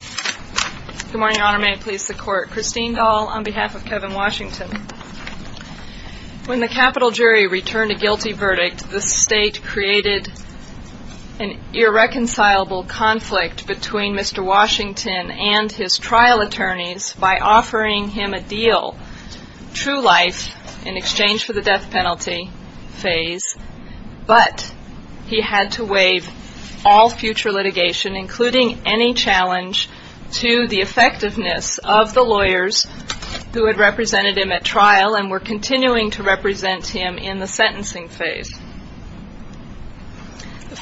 Good morning, Your Honor. May it please the Court. Christine Dahl on behalf of Kevin Washington. When the capital jury returned a guilty verdict, the State created an irreconcilable conflict between Mr. Washington and his trial attorneys by offering him a deal, true life, in exchange for the death penalty phase, but he had to waive all future litigation, including any challenge to the effectiveness of the lawyers who had represented him at trial and were continuing to represent him in the sentencing phase. The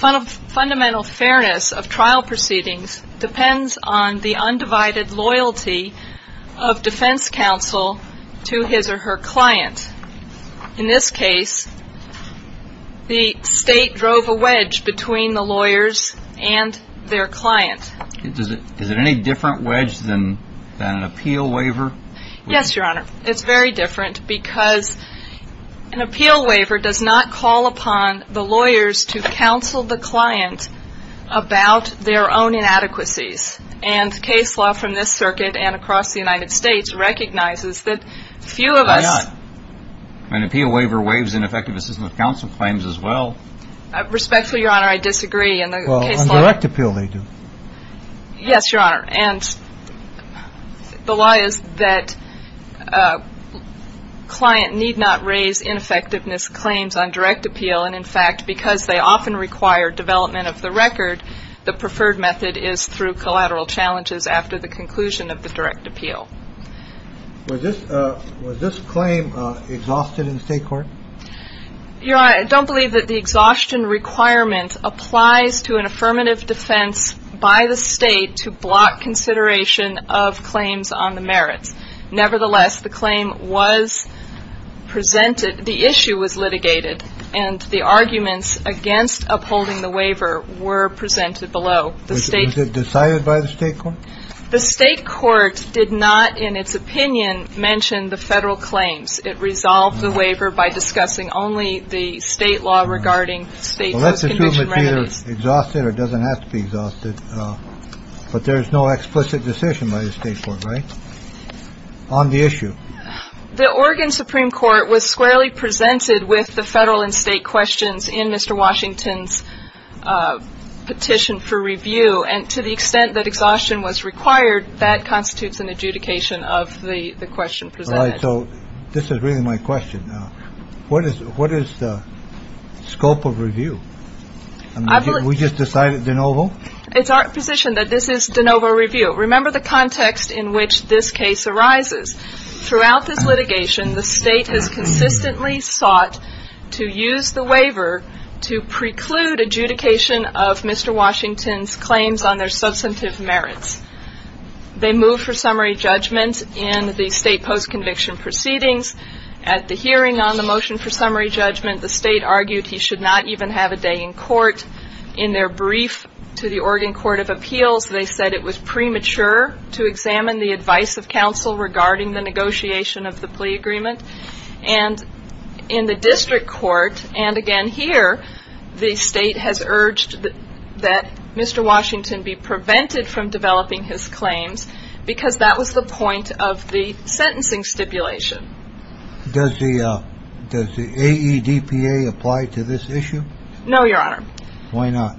fundamental fairness of trial proceedings depends on the undivided loyalty of defense counsel to his or her client. In this case, the State drove a wedge between the lawyers and their client. Is it any different wedge than an appeal waiver? Yes, Your Honor. It's very different because an appeal waiver does not call upon the lawyers to counsel the client about their own inadequacies. And case law from this circuit and across the United States recognizes that few of us... Why not? An appeal waiver waives ineffective assistance of counsel claims as well. Respectfully, Your Honor, I disagree. Well, on direct appeal they do. Yes, Your Honor. And the law is that client need not raise ineffectiveness claims on direct appeal. And in fact, because they often require development of the record, the preferred method is through collateral challenges after the conclusion of the direct appeal. Was this claim exhausted in the State court? Your Honor, I don't believe that the exhaustion requirement applies to an affirmative defense by the State to block consideration of claims on the merits. Nevertheless, the claim was presented. The issue was litigated and the arguments against upholding the waiver were presented below the state. Was it decided by the state court? The state court did not, in its opinion, mention the federal claims. It resolved the waiver by discussing only the state law regarding state. Let's assume it's either exhausted or doesn't have to be exhausted. But there is no explicit decision by the state court on the issue. The Oregon Supreme Court was squarely presented with the federal and state questions in Mr. Washington's petition for review. And to the extent that exhaustion was required, that constitutes an adjudication of the question. So this is really my question. What is what is the scope of review? We just decided the novel. It's our position that this is the novel review. Remember the context in which this case arises throughout this litigation. The state has consistently sought to use the waiver to preclude adjudication of Mr. Washington's claims on their substantive merits. They move for summary judgment in the state post conviction proceedings at the hearing on the motion for summary judgment. The state argued he should not even have a day in court in their brief to the Oregon Court of Appeals. They said it was premature to examine the advice of counsel regarding the negotiation of the plea agreement and in the district court. And again, here, the state has urged that Mr. Washington be prevented from developing his claims because that was the point of the sentencing stipulation. Does the does the AEDPA apply to this issue? No, Your Honor. Why not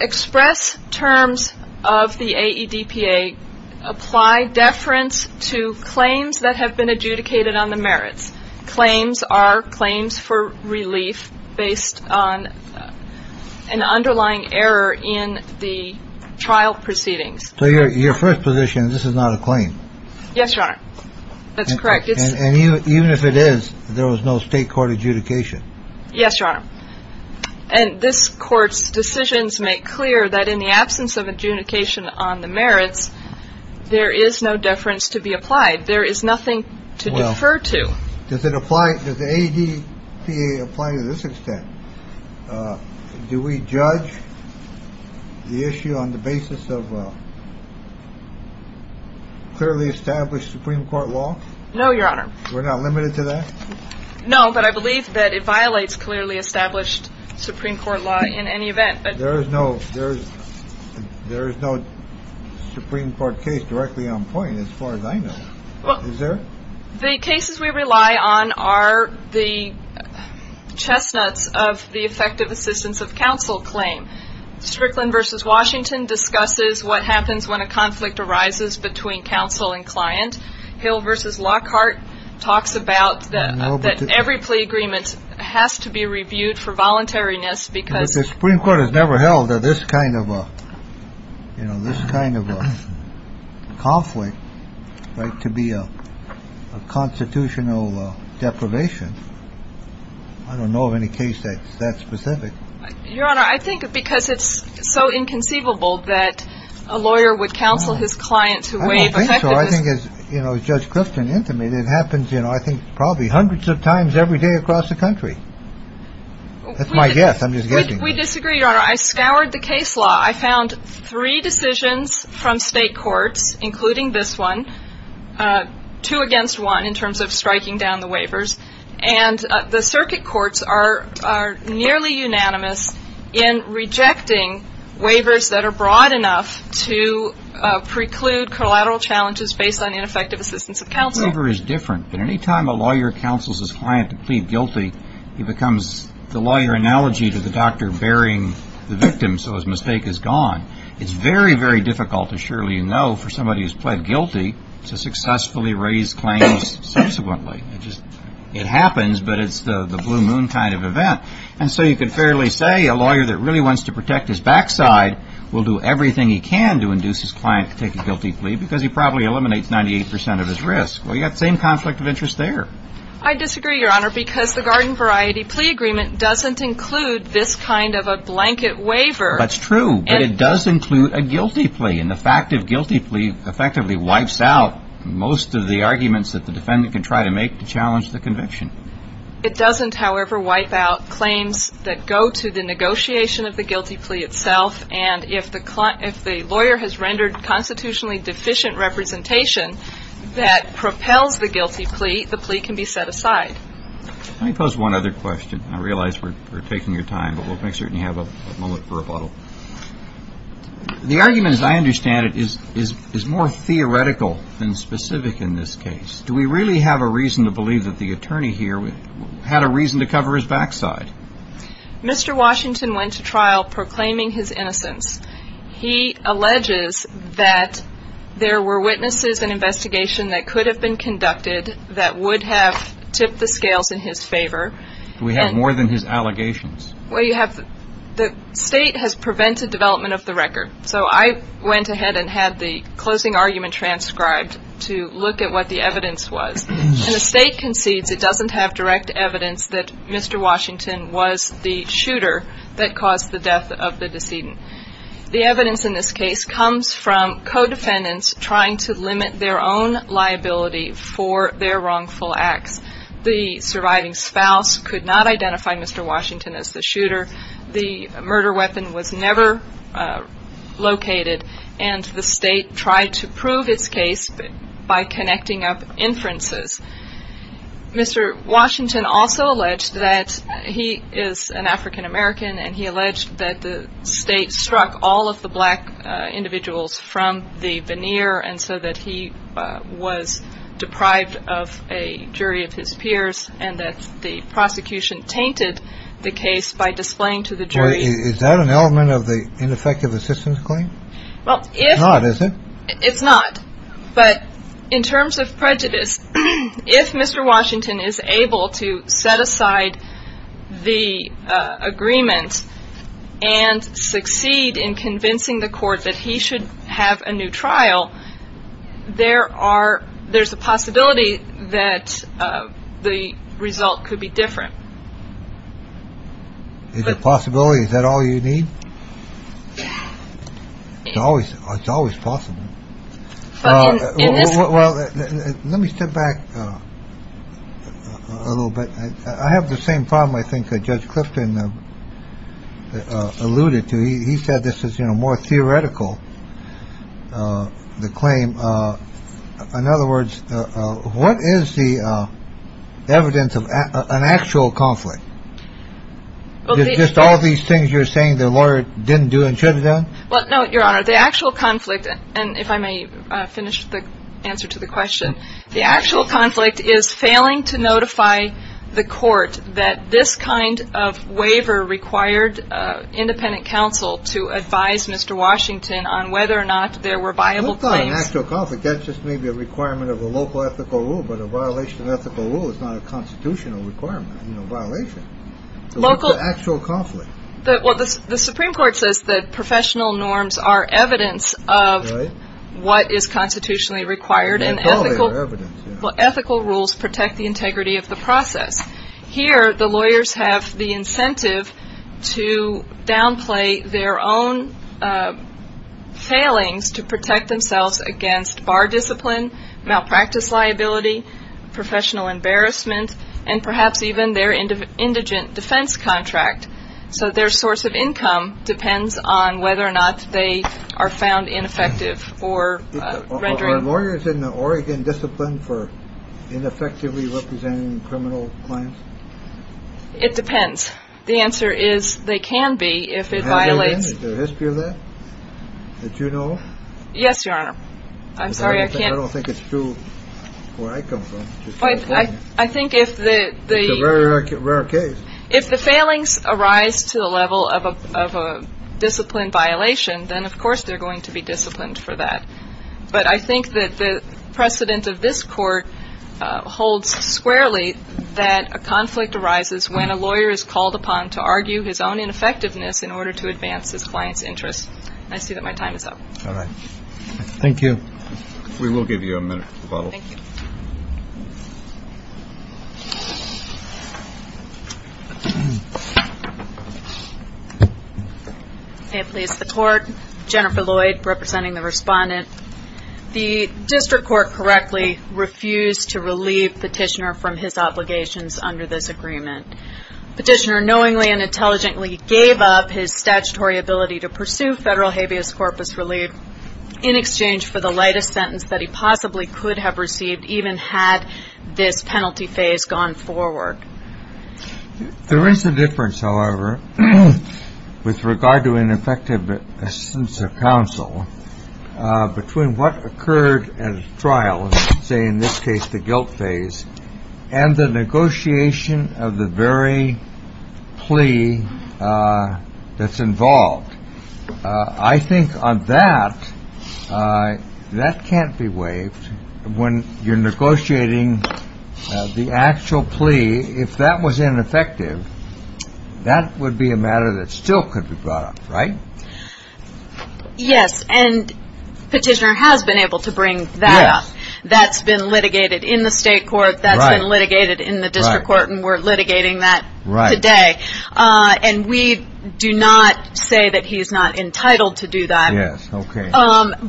express terms of the AEDPA? Apply deference to claims that have been adjudicated on the merits. Claims are claims for relief based on an underlying error in the trial proceedings. So your first position, this is not a claim. Yes, Your Honor. That's correct. And even if it is, there was no state court adjudication. Yes, Your Honor. And this court's decisions make clear that in the absence of adjudication on the merits, there is no deference to be applied. There is nothing to defer to. Does it apply to the AEDPA? It doesn't apply to this extent. Do we judge the issue on the basis of clearly established Supreme Court law? No, Your Honor. We're not limited to that. No, but I believe that it violates clearly established Supreme Court law in any event. But there is no there's there is no Supreme Court case directly on point as far as I know. Well, the cases we rely on are the chestnuts of the effective assistance of counsel claim. Strickland versus Washington discusses what happens when a conflict arises between counsel and client. Hill versus Lockhart talks about that. That every plea agreement has to be reviewed for voluntariness because the Supreme Court has never held that this kind of, you know, this kind of conflict right to be a constitutional deprivation. I don't know of any case that's that specific, Your Honor. I think because it's so inconceivable that a lawyer would counsel his client to waive. I think as you know, Judge Griffin intimated, it happens, you know, I think probably hundreds of times every day across the country. That's my guess. I'm just getting. We disagree. I scoured the case law. I found three decisions from state courts, including this one, two against one in terms of striking down the waivers. And the circuit courts are nearly unanimous in rejecting waivers that are broad enough to preclude collateral challenges based on ineffective assistance of counsel. But any time a lawyer counsels his client to plead guilty, he becomes the lawyer analogy to the doctor burying the victim. So his mistake is gone. It's very, very difficult to surely know for somebody who's pled guilty to successfully raise claims subsequently. It happens, but it's the blue moon kind of event. And so you could fairly say a lawyer that really wants to protect his backside will do everything he can to induce his client to take a guilty plea because he probably eliminates 98 percent of his risk. Well, you've got the same conflict of interest there. I disagree, Your Honor, because the garden variety plea agreement doesn't include this kind of a blanket waiver. That's true. And it does include a guilty plea. And the fact of guilty plea effectively wipes out most of the arguments that the defendant can try to make to challenge the conviction. It doesn't, however, wipe out claims that go to the negotiation of the guilty plea itself. And if the client, if the lawyer has rendered constitutionally deficient representation that propels the guilty plea, the plea can be set aside. Let me pose one other question. I realize we're taking your time, but we'll make sure you have a moment for rebuttal. The argument, as I understand it, is more theoretical than specific in this case. Do we really have a reason to believe that the attorney here had a reason to cover his backside? Mr. Washington went to trial proclaiming his innocence. He alleges that there were witnesses and investigation that could have been conducted that would have tipped the scales in his favor. Do we have more than his allegations? Well, you have the state has prevented development of the record. So I went ahead and had the closing argument transcribed to look at what the evidence was. And the state concedes it doesn't have direct evidence that Mr. Washington was the shooter that caused the death of the decedent. The evidence in this case comes from co-defendants trying to limit their own liability for their wrongful acts. The surviving spouse could not identify Mr. Washington as the shooter. The murder weapon was never located. And the state tried to prove its case by connecting up inferences. Mr. Washington also alleged that he is an African-American, and he alleged that the state struck all of the black individuals from the veneer and so that he was deprived of a jury of his peers, and that the prosecution tainted the case by displaying to the jury. Is that an element of the ineffective assistance claim? Well, if it's not, but in terms of prejudice, if Mr. Washington is able to set aside the agreement and succeed in convincing the court that he should have a new trial, there are there's a possibility that the result could be different. The possibility is that all you need. It's always it's always possible. Well, let me step back a little bit. I have the same problem, I think, that Judge Clifton alluded to. He said this is, you know, more theoretical. The claim. In other words, what is the evidence of an actual conflict? Just all these things you're saying the lawyer didn't do and should have done. Well, no, Your Honor, the actual conflict. And if I may finish the answer to the question, the actual conflict is failing to notify the court that this kind of waiver required independent counsel to advise Mr. Washington on whether or not there were viable claims. That's just maybe a requirement of a local ethical rule. But a violation of ethical rule is not a constitutional requirement. You know, violation local actual conflict. Well, the Supreme Court says that professional norms are evidence of what is constitutionally required and ethical. Well, ethical rules protect the integrity of the process. Here, the lawyers have the incentive to downplay their own failings to protect themselves against bar discipline, malpractice liability, professional embarrassment, and perhaps even their indigent defense contract. So their source of income depends on whether or not they are found ineffective for rendering lawyers in the Oregon discipline for ineffectively representing criminal claims. It depends. The answer is they can be if it violates the history of that. Did you know? Yes, Your Honor. I'm sorry. I can't. I don't think it's true where I come from. I think if the very rare case, if the failings arise to the level of a disciplined violation, then of course they're going to be disciplined for that. But I think that the precedent of this court holds squarely that a conflict arises when a lawyer is called upon to argue his own ineffectiveness in order to advance his client's interests. I see that my time is up. All right. Thank you. We will give you a minute to follow up. May it please the Court. Jennifer Lloyd representing the respondent. The district court correctly refused to relieve Petitioner from his obligations under this agreement. Petitioner knowingly and intelligently gave up his statutory ability to pursue federal habeas corpus relief in exchange for the lightest sentence that he possibly could have received even had this penalty phase gone forward. There is a difference, however, with regard to ineffective assent of counsel between what occurred at trial, say in this case the guilt phase, and the negotiation of the very plea that's involved. I think on that, that can't be waived when you're negotiating the actual plea. If that was ineffective, that would be a matter that still could be brought up. Right? Yes. And Petitioner has been able to bring that up. That's been litigated in the state court. That's been litigated in the district court. And we're litigating that today. And we do not say that he's not entitled to do that.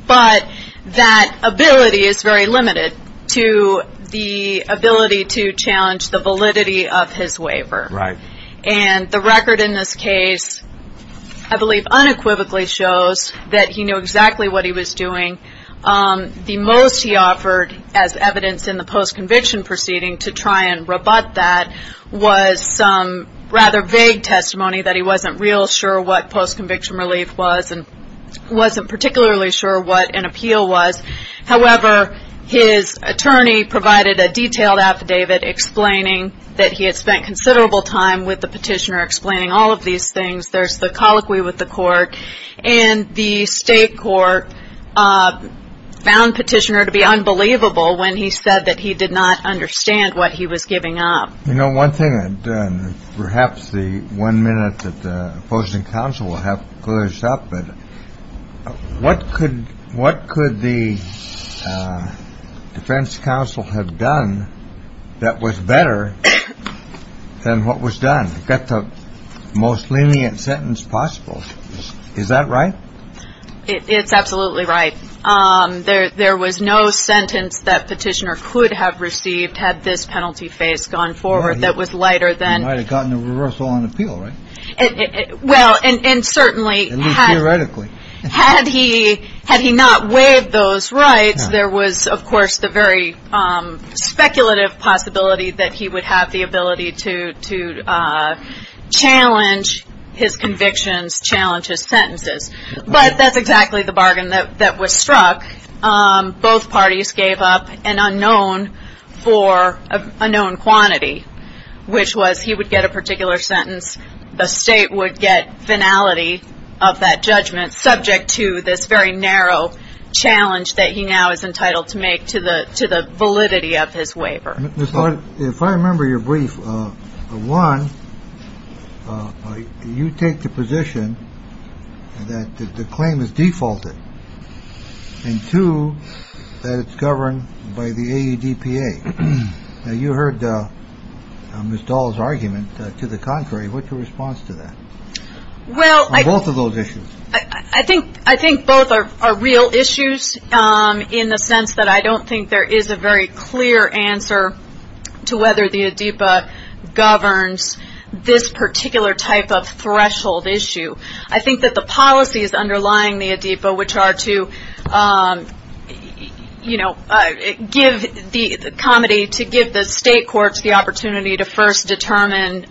But that ability is very limited to the ability to challenge the validity of his waiver. And the record in this case, I believe, unequivocally shows that he knew exactly what he was doing. The most he offered as evidence in the post-conviction proceeding to try and rebut that was some rather vague testimony that he wasn't real sure what post-conviction relief was and wasn't particularly sure what an appeal was. However, his attorney provided a detailed affidavit explaining that he had spent considerable time with the petitioner explaining all of these things. There's the colloquy with the court. And the state court found Petitioner to be unbelievable when he said that he did not understand what he was giving up. You know, one thing, perhaps the one minute that the opposing counsel will have to close up. But what could what could the defense counsel have done that was better than what was done? That's the most lenient sentence possible. Is that right? It's absolutely right. There there was no sentence that petitioner could have received had this penalty face gone forward. That was lighter than I had gotten a reversal on appeal. Well, and certainly theoretically, had he had he not waived those rights, there was, of course, the very speculative possibility that he would have the ability to challenge his convictions, challenge his sentences. But that's exactly the bargain that was struck. Both parties gave up an unknown for a known quantity, which was he would get a particular sentence. The state would get finality of that judgment subject to this very narrow challenge that he now is entitled to make to the to the validity of his waiver. If I remember your brief, one, you take the position that the claim is defaulted. To that, it's governed by the EPA. Now, you heard Ms. Doll's argument to the contrary. What's your response to that? Well, I both of those issues. I think I think both are real issues in the sense that I don't think there is a very clear answer to whether the adeepa governs this particular type of threshold issue. I think that the policy is underlying the adeepa, which are to, you know, give the comedy to give the state courts the opportunity to first determine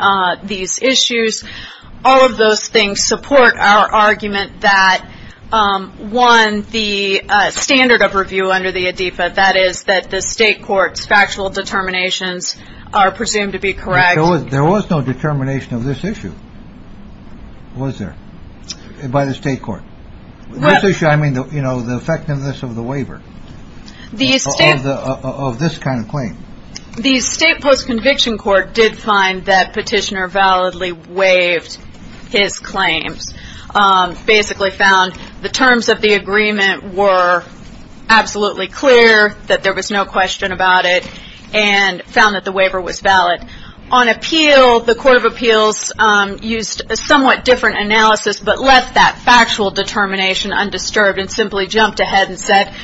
these issues. All of those things support our argument that one, the standard of review under the adeepa, that is that the state courts factual determinations are presumed to be correct. There was no determination of this issue. Was there by the state court? I mean, you know, the effectiveness of the waiver. These of this kind of claim. The state post conviction court did find that petitioner validly waived his claims, basically found the terms of the agreement were absolutely clear that there was no question about it and found that the waiver was valid. On appeal, the court of appeals used a somewhat different analysis, but left that factual determination undisturbed and simply jumped ahead and said,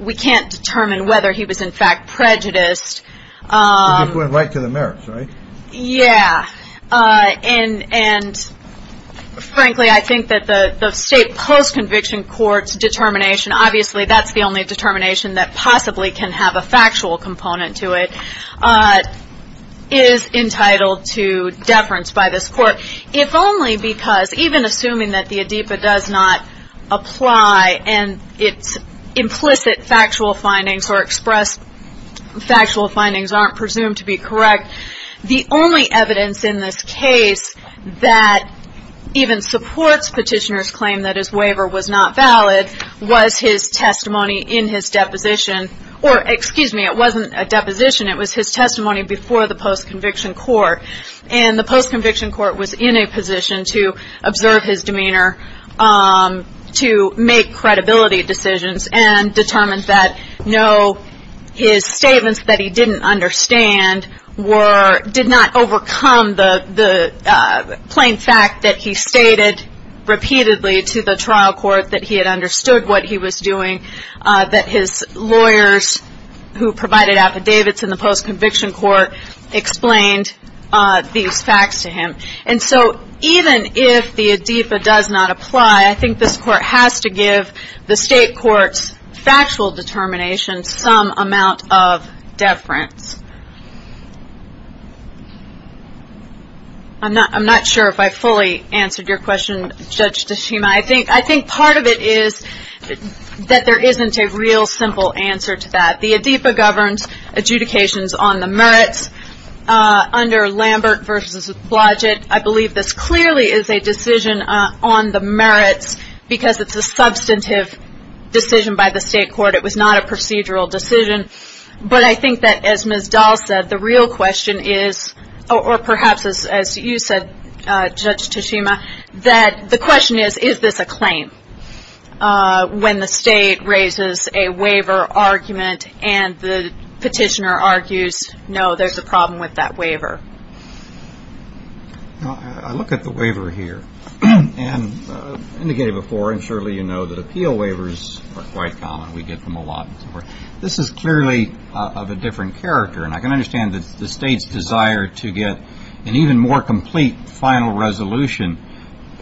we can't determine whether he was in fact prejudiced. Went right to the merits, right? Yeah. And and frankly, I think that the state post conviction courts determination, obviously that's the only determination that possibly can have a factual component to it, is entitled to deference by this court, if only because even assuming that the adeepa does not apply and it's implicit, factual findings or express factual findings aren't presumed to be correct. The only evidence in this case that even supports petitioners claim that his waiver was not valid was his testimony in his deposition. Or excuse me, it wasn't a deposition. It was his testimony before the post conviction court. And the post conviction court was in a position to observe his demeanor to make credibility decisions and determined that no, his statements that he didn't understand were, did not overcome the plain fact that he stated repeatedly to the trial court that he had understood what he was doing, that his lawyers who provided affidavits in the post conviction court explained these facts to him. And so even if the adeepa does not apply, I think this court has to give the state courts factual determination some amount of deference. I'm not I'm not sure if I fully answered your question, Judge Tashima. I think I think part of it is that there isn't a real simple answer to that. The adeepa governs adjudications on the merits under Lambert versus Blodgett. I believe this clearly is a decision on the merits because it's a substantive decision by the state court. It was not a procedural decision. But I think that as Ms. Dahl said, the real question is, or perhaps as you said, Judge Tashima, that the question is, is this a claim when the state raises a waiver argument and the petitioner argues? No, there's a problem with that waiver. I look at the waiver here and indicated before. And surely, you know, that appeal waivers are quite common. We get them a lot. This is clearly of a different character. And I can understand that the state's desire to get an even more complete final resolution.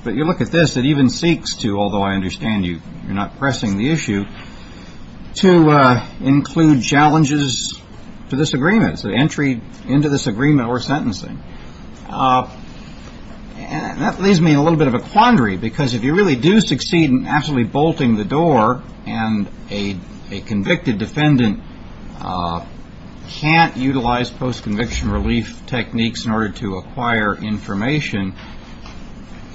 But you look at this, it even seeks to, although I understand you're not pressing the issue, to include challenges to this agreement, the entry into this agreement or sentencing. And that leaves me in a little bit of a quandary because if you really do succeed in absolutely bolting the door and a convicted defendant can't utilize post-conviction relief techniques in order to acquire information,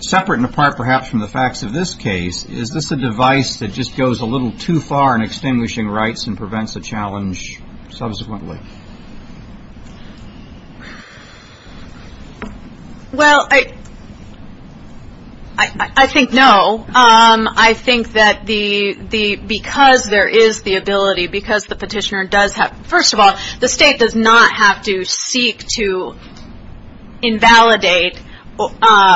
separate and apart perhaps from the facts of this case, is this a device that just goes a little too far in extinguishing rights and prevents a challenge subsequently? Well, I think no. I think that because there is the ability, because the petitioner does have, first of all, the state does not have to seek to invalidate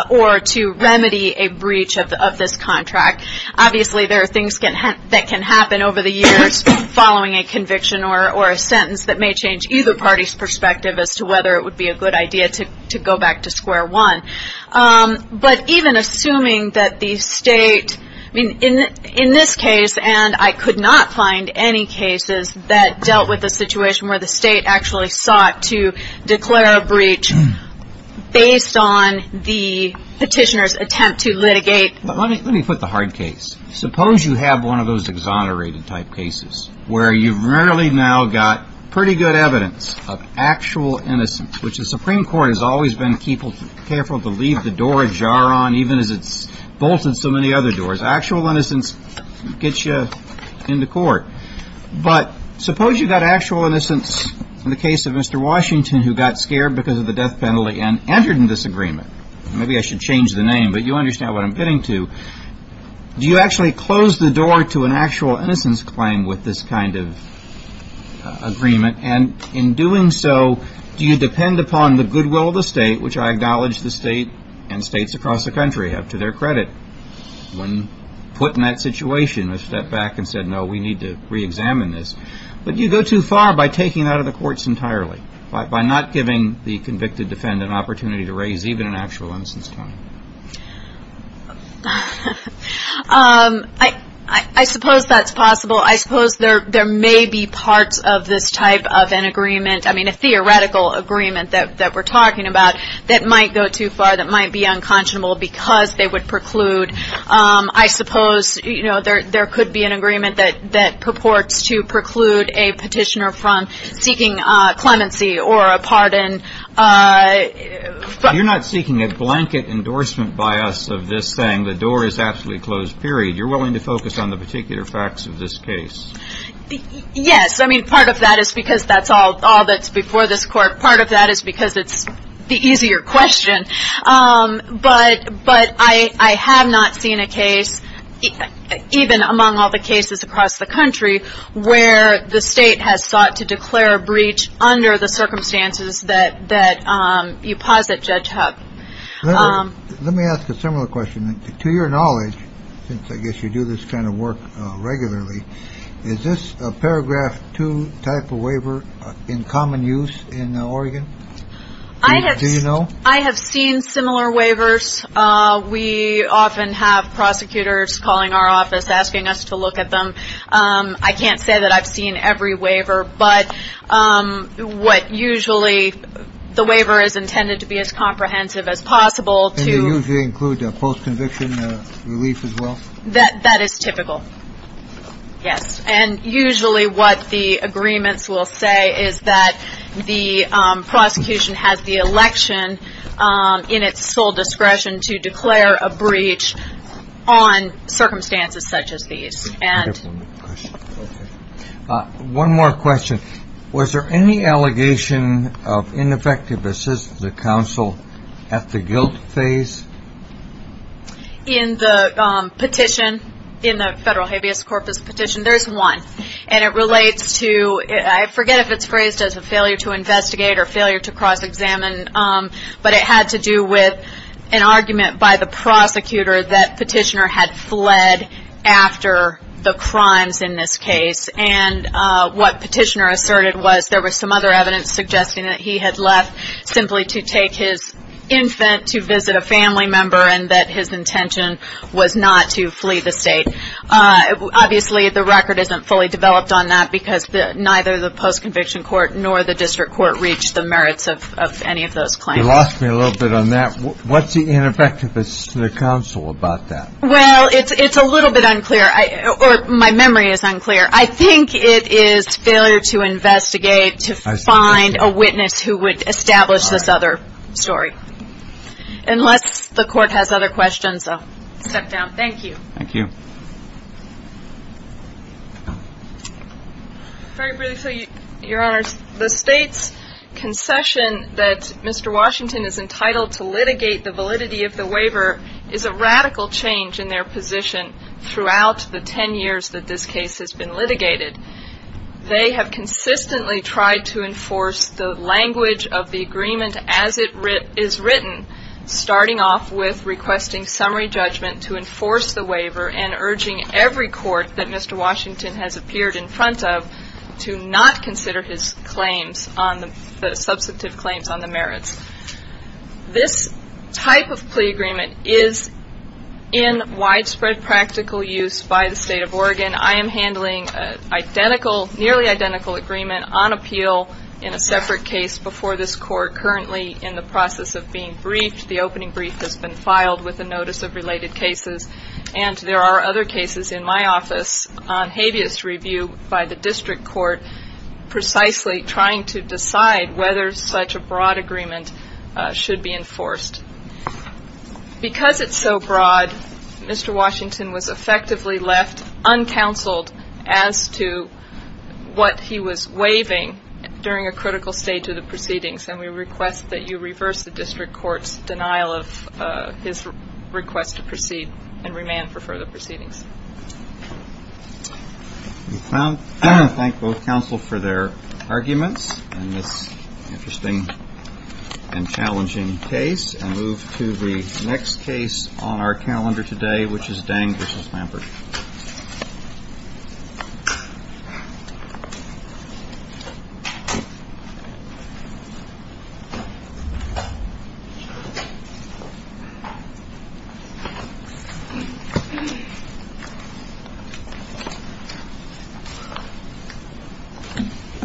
or to remedy a breach of this contract. Obviously, there are things that can happen over the years following a conviction or a sentence that may change either party's perspective as to whether it would be a good idea to go back to square one. But even assuming that the state, in this case, and I could not find any cases that dealt with the situation where the state actually sought to declare a breach based on the petitioner's attempt to litigate. Let me put the hard case. Suppose you have one of those exonerated-type cases where you've really now got pretty good evidence of actual innocence, which the Supreme Court has always been careful to leave the door ajar on even as it's bolted so many other doors. Actual innocence gets you into court. But suppose you've got actual innocence in the case of Mr. Washington who got scared because of the death penalty and entered in disagreement. Maybe I should change the name, but you understand what I'm getting to. Do you actually close the door to an actual innocence claim with this kind of agreement? And in doing so, do you depend upon the goodwill of the state, which I acknowledge the state and states across the country have to their credit? When put in that situation, a step back and said, no, we need to reexamine this. But you go too far by taking it out of the courts entirely, by not giving the convicted defendant an opportunity to raise even an actual innocence claim. I suppose that's possible. I suppose there may be parts of this type of an agreement, I mean a theoretical agreement that we're talking about that might go too far, that might be unconscionable because they would preclude. I suppose there could be an agreement that purports to preclude a petitioner from seeking clemency or a pardon. You're not seeking a blanket endorsement by us of this thing, the door is absolutely closed, period. You're willing to focus on the particular facts of this case. Yes. I mean, part of that is because that's all that's before this court. Part of that is because it's the easier question. But I have not seen a case, even among all the cases across the country, where the state has sought to declare a breach under the circumstances that you posit Judge Hub. Let me ask a similar question. To your knowledge, since I guess you do this kind of work regularly, is this a paragraph two type of waiver in common use in Oregon? Do you know? I have seen similar waivers. We often have prosecutors calling our office asking us to look at them. I can't say that I've seen every waiver. But what usually, the waiver is intended to be as comprehensive as possible. And they usually include the post-conviction relief as well? That is typical. Yes. And usually what the agreements will say is that the prosecution has the election in its sole discretion to declare a breach on circumstances such as these. One more question. Was there any allegation of ineffective assistance to the counsel at the guilt phase? In the petition, in the federal habeas corpus petition, there is one. And it relates to, I forget if it's phrased as a failure to investigate or failure to cross-examine, but it had to do with an argument by the prosecutor that Petitioner had fled after the crimes in this case. And what Petitioner asserted was there was some other evidence suggesting that he had left simply to take his infant to visit a family member and that his intention was not to flee the state. Obviously, the record isn't fully developed on that because neither the post-conviction court nor the district court reached the merits of any of those claims. You lost me a little bit on that. What's the ineffectiveness to the counsel about that? Well, it's a little bit unclear. Or my memory is unclear. I think it is failure to investigate to find a witness who would establish this other story. Unless the court has other questions, I'll step down. Thank you. Thank you. Very briefly, Your Honor, the State's concession that Mr. Washington is entitled to litigate the validity of the waiver is a radical change in their position throughout the ten years that this case has been litigated. They have consistently tried to enforce the language of the agreement as it is written, starting off with requesting summary judgment to enforce the waiver and urging every court that Mr. Washington has appeared in front of to not consider his claims, the substantive claims on the merits. This type of plea agreement is in widespread practical use by the State of Oregon. I am handling a nearly identical agreement on appeal in a separate case before this court, currently in the process of being briefed. The opening brief has been filed with a notice of related cases, and there are other cases in my office on habeas review by the district court, precisely trying to decide whether such a broad agreement should be enforced. Because it's so broad, Mr. Washington was effectively left uncounseled as to what he was waiving during a critical stage of the proceedings, and we request that you reverse the district court's denial of his request to proceed and remand for further proceedings. We thank both counsel for their arguments in this interesting and challenging case, and move to the next case on our calendar today, which is Dang v. Lampert.